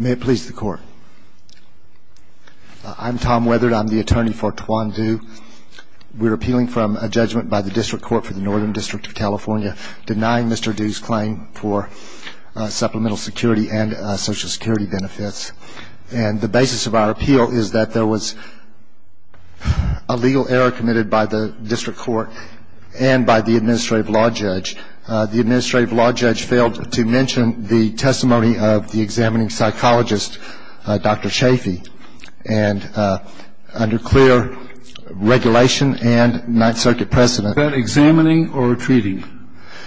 May it please the Court. I'm Tom Weathered. I'm the attorney for Tuan Du. We're appealing from a judgment by the District Court for the Northern District of California denying Mr. Du's claim for supplemental security and Social Security benefits. And the basis of our appeal is that there was a legal error committed by the District Court and by the administrative law judge. The administrative law judge failed to mention the testimony of the examining psychologist, Dr. Chafee, and under clear regulation and Ninth Circuit precedent. Was that examining or treating?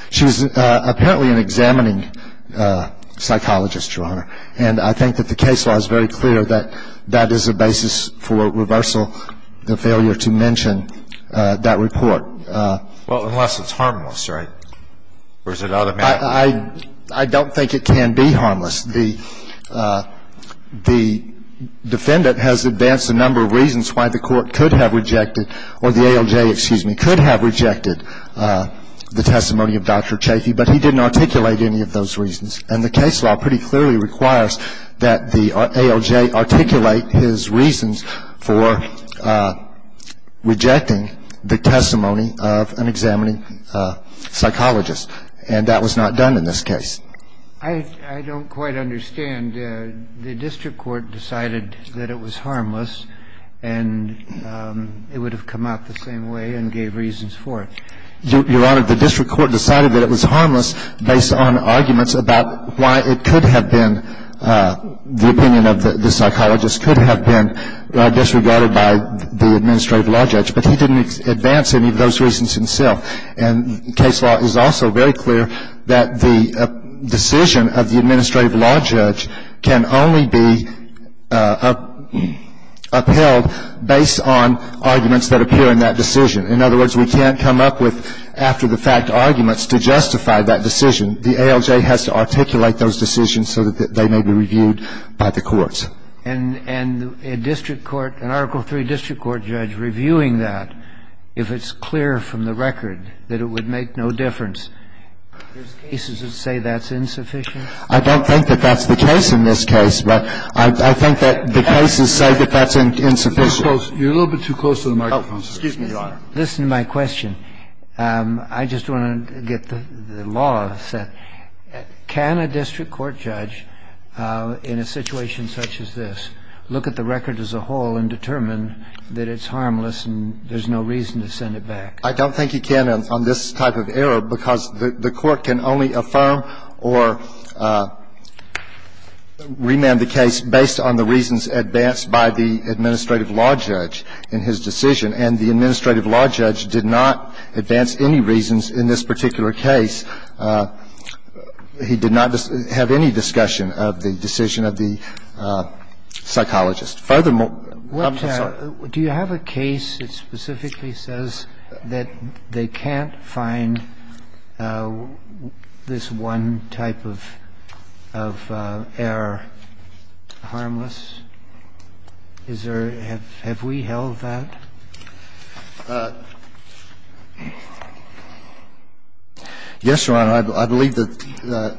She was apparently an examining psychologist, Your Honor, and I think that the case law is very clear that that is a basis for reversal, the failure to mention that report. Well, unless it's harmless, right? Or is it automatic? I don't think it can be harmless. The defendant has advanced a number of reasons why the court could have rejected or the ALJ, excuse me, could have rejected the testimony of Dr. Chafee, but he didn't articulate any of those reasons. And the case law pretty clearly requires that the ALJ articulate his reasons for rejecting the testimony of an examining psychologist, and that was not done in this case. I don't quite understand. The District Court decided that it was harmless and it would have come out the same way and gave reasons for it. Your Honor, the District Court decided that it was harmless based on arguments about why it could have been, the opinion of the psychologist could have been disregarded by the administrative law judge, but he didn't advance any of those reasons himself. And the case law is also very clear that the decision of the administrative law judge can only be upheld based on arguments that appear in that decision. In other words, we can't come up with after-the-fact arguments to justify that decision. The ALJ has to articulate those decisions so that they may be reviewed by the courts. And a district court, an Article III district court judge reviewing that, if it's clear from the record that it would make no difference, there's cases that say that's insufficient? I don't think that that's the case in this case, but I think that the cases say that that's insufficient. You're a little bit too close to the microphone. Excuse me, Your Honor. Listen to my question. I just want to get the law set. Can a district court judge in a situation such as this look at the record as a whole and determine that it's harmless and there's no reason to send it back? I don't think he can on this type of error because the court can only affirm or remand the case based on the reasons advanced by the administrative law judge in his decision. And the administrative law judge did not advance any reasons in this particular case. He did not have any discussion of the decision of the psychologist. Furthermore, I'm sorry. Do you have a case that specifically says that they can't find this one type of error harmless? Is there or have we held that? Yes, Your Honor. I believe that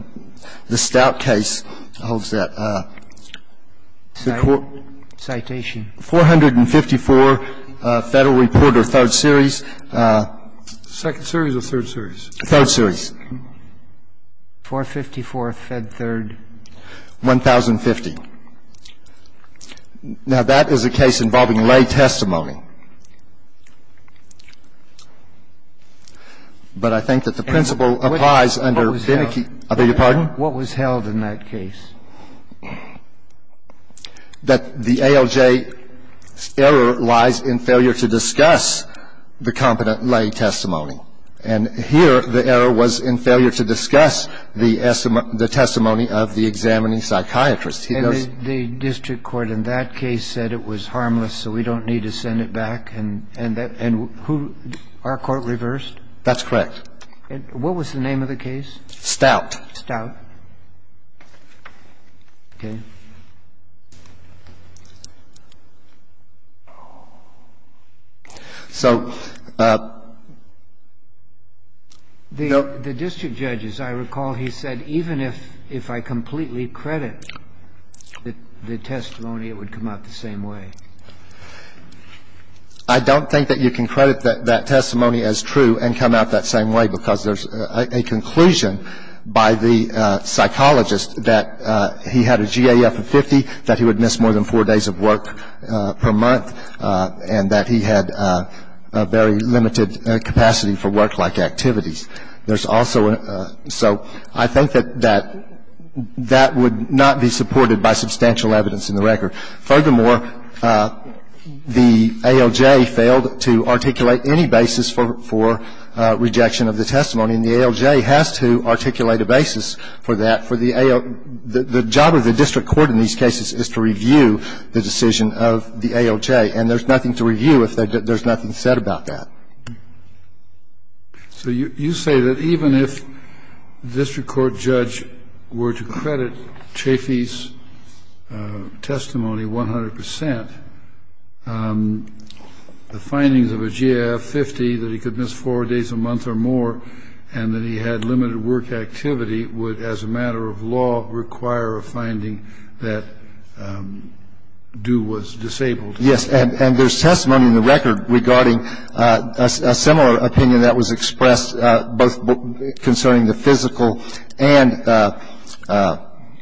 the Stout case holds that. Citation. 454 Federal Report or 3rd Series. 2nd Series or 3rd Series? 3rd Series. 454 Fed 3rd. 1,050. Now, that is a case involving lay testimony. But I think that the principle applies under Beneke. I beg your pardon? What was held in that case? That the ALJ error lies in failure to discuss the competent lay testimony. And here, the error was in failure to discuss the testimony of the examining psychiatrist. He goes to the district court in that case said it was harmless so we don't need to send it back. And who, our court reversed? That's correct. What was the name of the case? Stout. Stout. Okay. So the district judge, as I recall, he said even if I completely credit the testimony, it would come out the same way. I don't think that you can credit that testimony as true and come out that same way because there's a conclusion by the psychologist that he had a GAF of 50, that he would miss more than four days of work per month, and that he had a very limited capacity for work-like activities. There's also a so I think that that would not be supported by substantial evidence in the record. Furthermore, the ALJ failed to articulate any basis for rejection of the testimony, and the ALJ has to articulate a basis for that. The job of the district court in these cases is to review the decision of the ALJ, and there's nothing to review if there's nothing said about that. So you say that even if the district court judge were to credit Chafee's testimony 100 percent, the findings of a GAF 50 that he could miss four days a month or more and that he had limited work activity would, as a matter of law, require a finding that Dew was disabled. Yes, and there's testimony in the record regarding a similar opinion that was expressed, both concerning the physical and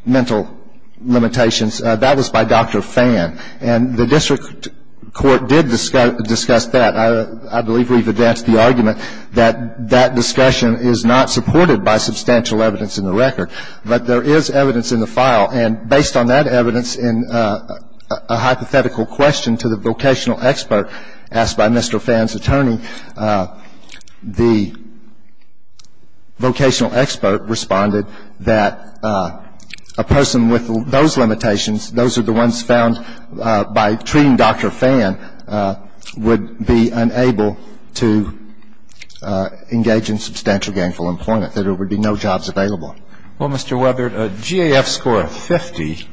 mental limitations. That was by Dr. Phan, and the district court did discuss that. I believe we've advanced the argument that that discussion is not supported by substantial evidence in the record, but there is evidence in the file, and based on that evidence, in a hypothetical question to the vocational expert asked by Mr. Phan's attorney, the vocational expert responded that a person with those limitations, those are the ones found by treating Dr. Phan, would be unable to engage in substantial gainful employment, that there would be no jobs available. Well, Mr. Weather, a GAF score of 50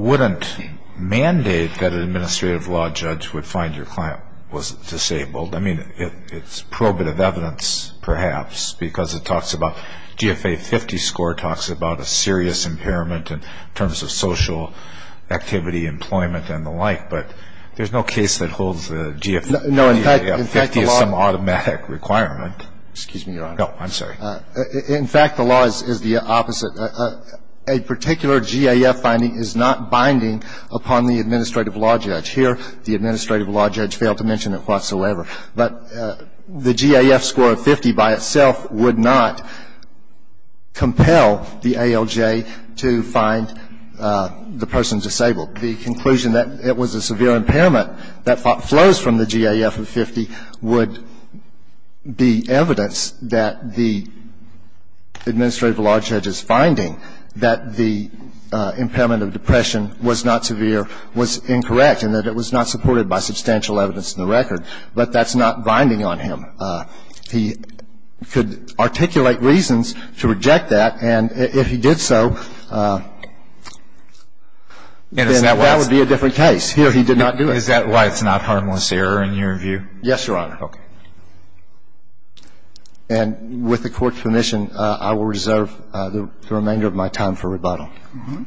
wouldn't mandate that an administrative law judge would find your client was disabled. I mean, it's probative evidence, perhaps, because it talks about, GFA 50 score talks about a serious impairment in terms of social activity, employment, and the like, but there's no case that holds the GFA 50 as some automatic requirement. Excuse me, Your Honor. No, I'm sorry. In fact, the law is the opposite. A particular GAF finding is not binding upon the administrative law judge. Here, the administrative law judge failed to mention it whatsoever. But the GAF score of 50 by itself would not compel the ALJ to find the person disabled. The conclusion that it was a severe impairment that flows from the GAF of 50 would be evidence that the administrative law judge is finding that the impairment of depression was not severe, was incorrect, and that it was not supported by substantial evidence in the record. But that's not binding on him. He could articulate reasons to reject that, and if he did so, then that would be a different case. Here, he did not do it. Is that why it's not harmless error in your view? Yes, Your Honor. Okay. And with the Court's permission, I will reserve the remainder of my time for rebuttal. Thank you.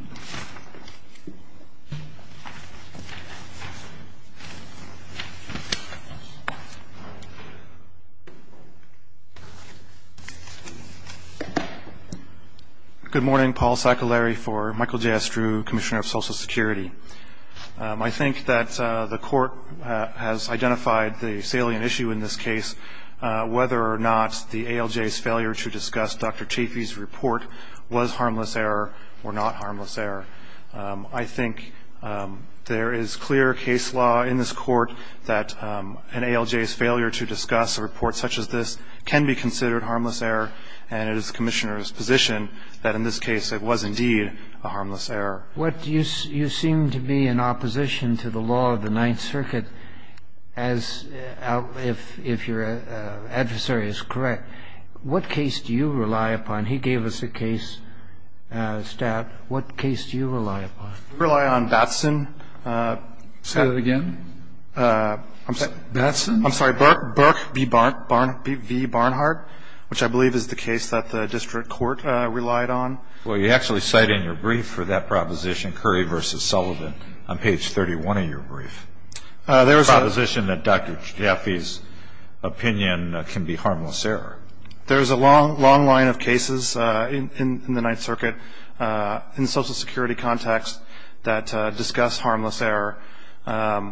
Good morning. Paul Sacolari for Michael J. Estrue, Commissioner of Social Security. I think that the Court has identified the salient issue in this case, whether or not the ALJ's failure to discuss Dr. Chafee's harmless error or not harmless error. I think there is clear case law in this Court that an ALJ's failure to discuss a report such as this can be considered harmless error, and it is the Commissioner's position that in this case it was indeed a harmless error. You seem to be in opposition to the law of the Ninth Circuit, if your adversary is correct. What case do you rely upon? He gave us a case stat. What case do you rely upon? We rely on Batson. Say that again? Batson? I'm sorry. Burke v. Barnhart, which I believe is the case that the district court relied on. Well, you actually cite in your brief for that proposition, Curry v. Sullivan, on page 31 of your brief. There is a proposition that Dr. Chafee's opinion can be harmless error. There is a long, long line of cases in the Ninth Circuit in the Social Security context that discuss harmless error. Well,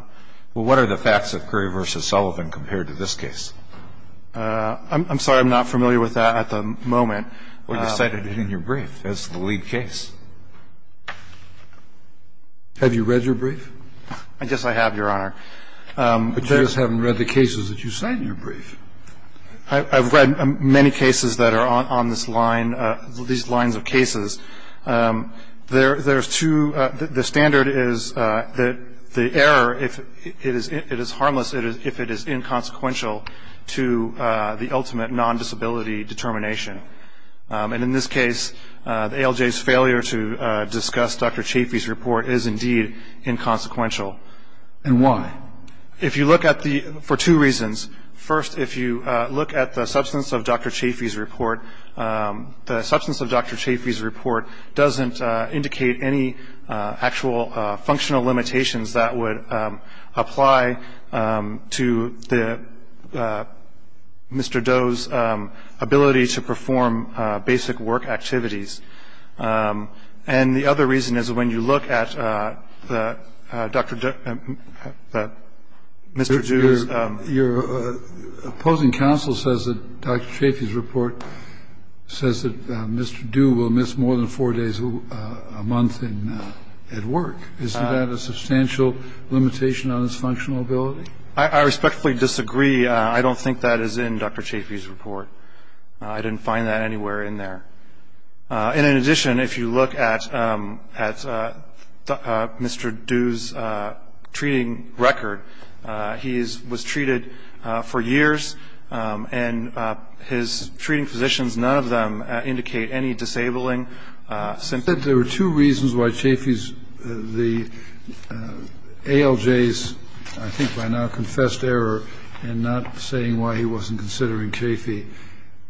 what are the facts of Curry v. Sullivan compared to this case? I'm sorry. I'm not familiar with that at the moment. Well, you cited it in your brief as the lead case. Have you read your brief? I guess I have, Your Honor. But you just haven't read the cases that you cite in your brief. I've read many cases that are on this line, these lines of cases. There's two. The standard is that the error, it is harmless if it is inconsequential to the ultimate non-disability determination. And in this case, the ALJ's failure to discuss Dr. Chafee's report is indeed inconsequential. And why? If you look at the, for two reasons. First, if you look at the substance of Dr. Chafee's report, the substance of Dr. Chafee's report doesn't indicate any actual functional limitations that would apply to Mr. Doe's ability to perform basic work activities. And the other reason is when you look at Mr. Doe's... Your opposing counsel says that Dr. Chafee's report says that Mr. Doe will miss more than four days a month at work. Isn't that a substantial limitation on his functional ability? I respectfully disagree. I don't think that is in Dr. Chafee's report. I didn't find that anywhere in there. And in addition, if you look at Mr. Doe's treating record, he was treated for years, and his treating physicians, none of them indicate any disabling symptoms. There were two reasons why Chafee's, the ALJ's, I think by now confessed error in not saying why he wasn't considering Chafee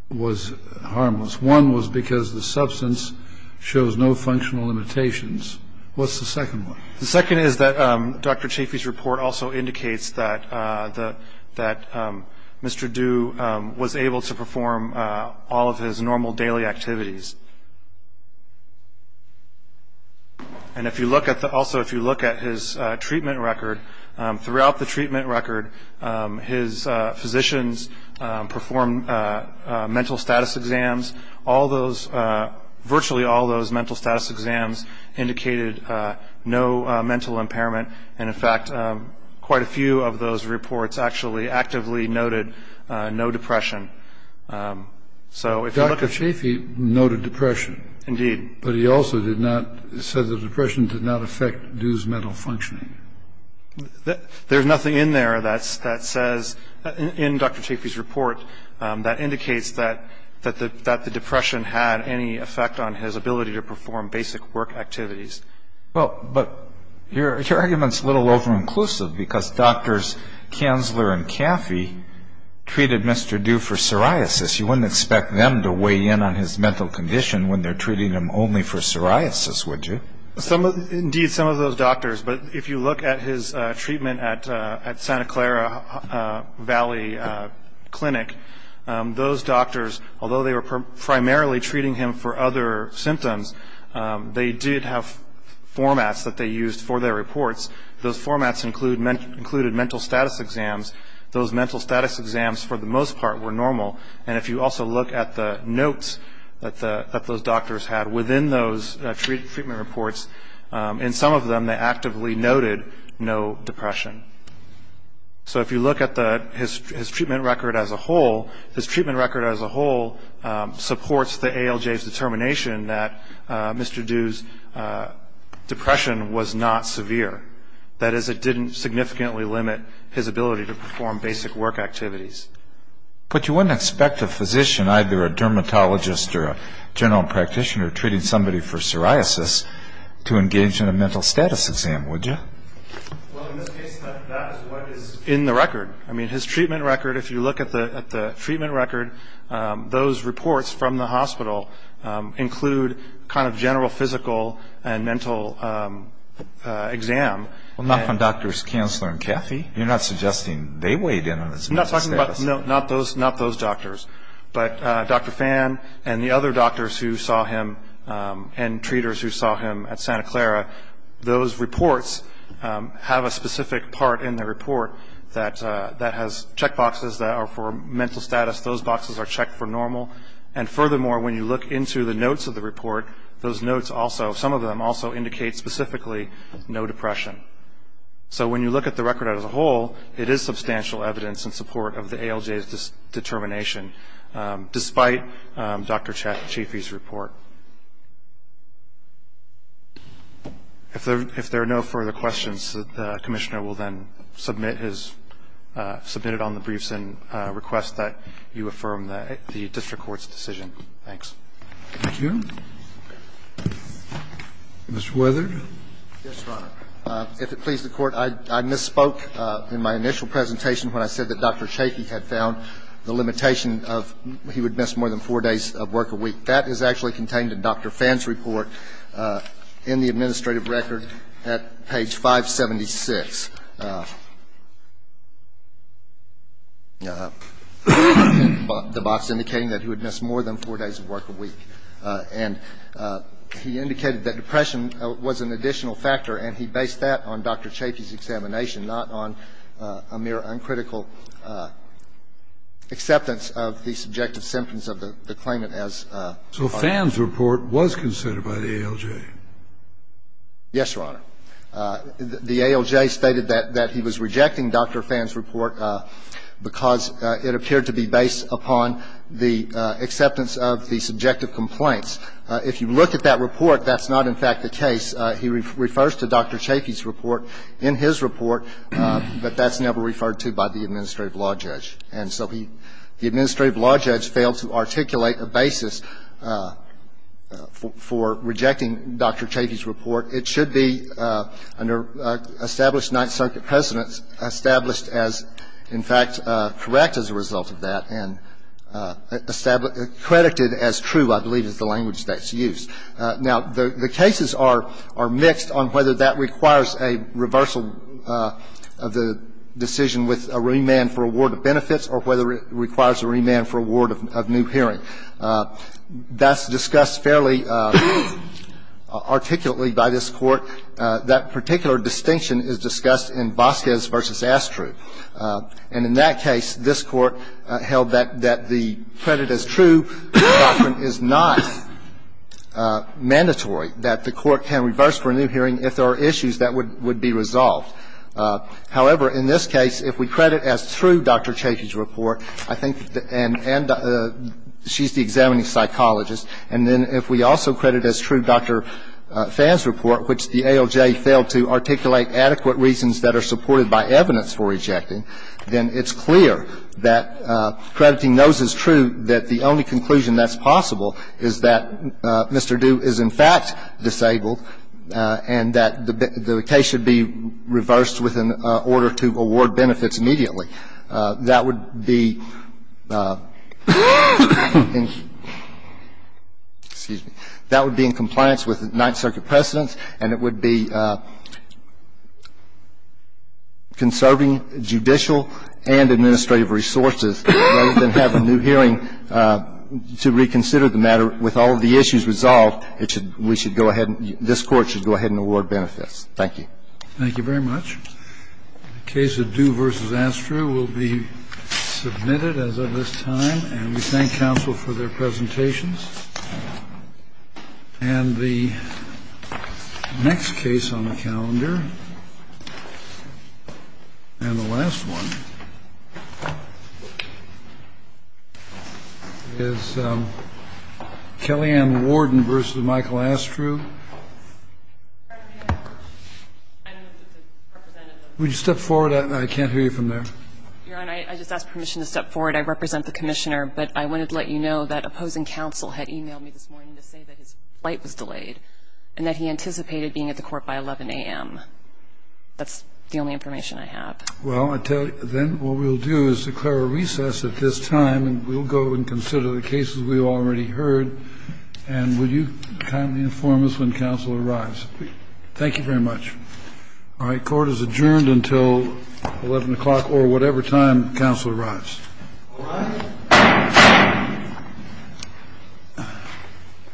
was harmless. One was because the substance shows no functional limitations. What's the second one? The second is that Dr. Chafee's report also indicates that Mr. Doe was able to perform all of his normal daily activities. And also if you look at his treatment record, throughout the treatment record, his physicians performed mental status exams. All those, virtually all those mental status exams indicated no mental impairment. And, in fact, quite a few of those reports actually actively noted no depression. So if you look at the... Dr. Chafee noted depression. Indeed. But he also did not, said the depression did not affect Doe's mental functioning. There's nothing in there that says, in Dr. Chafee's report, that indicates that the depression had any effect on his ability to perform basic work activities. Well, but your argument's a little over-inclusive because doctors Kanzler and Caffey treated Mr. Doe for psoriasis. You wouldn't expect them to weigh in on his mental condition when they're treating him only for psoriasis, would you? Indeed, some of those doctors. But if you look at his treatment at Santa Clara Valley Clinic, those doctors, although they were primarily treating him for other symptoms, they did have formats that they used for their reports. Those formats included mental status exams. Those mental status exams, for the most part, were normal. And if you also look at the notes that those doctors had within those treatment reports, in some of them they actively noted no depression. So if you look at his treatment record as a whole, his treatment record as a whole supports the ALJ's determination that Mr. Doe's depression was not severe. That is, it didn't significantly limit his ability to perform basic work activities. But you wouldn't expect a physician, either a dermatologist or a general practitioner, treating somebody for psoriasis to engage in a mental status exam, would you? Well, in this case, that is what is in the record. I mean, his treatment record, if you look at the treatment record, those reports from the hospital include kind of general physical and mental exam. Well, not from doctors Kanzler and Caffey. You're not suggesting they weighed in on his mental status? No, not those doctors. But Dr. Phan and the other doctors who saw him and treaters who saw him at Santa Clara, those reports have a specific part in the report that has checkboxes that are for mental status. Those boxes are checked for normal. And furthermore, when you look into the notes of the report, those notes also, some of them also indicate specifically no depression. So when you look at the record as a whole, it is substantial evidence in support of the ALJ's determination, despite Dr. Chaffee's report. If there are no further questions, the Commissioner will then submit his ‑‑ submitted on the briefs and request that you affirm the district court's decision. Thanks. Mr. Weather? Yes, Your Honor. If it pleases the Court, I misspoke in my initial presentation when I said that Dr. Chaffee had found the limitation of he would miss more than four days of work a week. That is actually contained in Dr. Phan's report in the administrative record at page 576. The box indicating that he would miss more than four days of work a week. And he indicated that depression was an additional factor, and he based that on Dr. Chaffee's examination, not on a mere uncritical acceptance of the subjective symptoms of the claimant as part of the case. So Phan's report was considered by the ALJ? Yes, Your Honor. The ALJ stated that he was rejecting Dr. Phan's report because it appeared to be based upon the acceptance of the subjective complaints. If you look at that report, that's not in fact the case. He refers to Dr. Chaffee's report in his report, but that's never referred to by the administrative law judge. And so the administrative law judge failed to articulate a basis for rejecting Dr. Chaffee's report. Now, the cases are mixed on whether that requires a reversal of the decision with a remand for a ward of benefits or whether it requires a remand for a ward of new hearing. That's discussed fairly articulately by this Court. That particular distinction is discussed in Vasquez v. Astruz. And in that case, this Court held that the credit as true doctrine is not mandatory, that the Court can reverse for a new hearing if there are issues that would be resolved. However, in this case, if we credit as true Dr. Chaffee's report, I think, and she's the examining psychologist, and then if we also credit as true Dr. Phan's report, which the ALJ failed to articulate adequate reasons that are supported by evidence for rejecting, then it's clear that crediting those is true, that the only conclusion that's possible is that Mr. Due is in fact disabled and that the case should be reversed with an order to award benefits immediately. That would be in compliance with Ninth Circuit precedents, and it would be conserving judicial and administrative resources rather than have a new hearing to reconsider the matter with all of the issues resolved. We should go ahead and this Court should go ahead and award benefits. Thank you. Thank you very much. The case of Due v. Astru will be submitted as of this time, and we thank counsel for their presentations. And the next case on the calendar and the last one is Kellyanne Warden v. Michael Astru. Would you step forward? I can't hear you from there. Your Honor, I just ask permission to step forward. I represent the commissioner, but I wanted to let you know that opposing counsel had emailed me this morning to say that his flight was delayed and that he anticipated being at the court by 11 a.m. That's the only information I have. Well, then what we'll do is declare a recess at this time, and we'll go and consider the cases we already heard. And will you kindly inform us when counsel arrives? Thank you very much. All right. Court is adjourned until 11 o'clock or whatever time counsel arrives.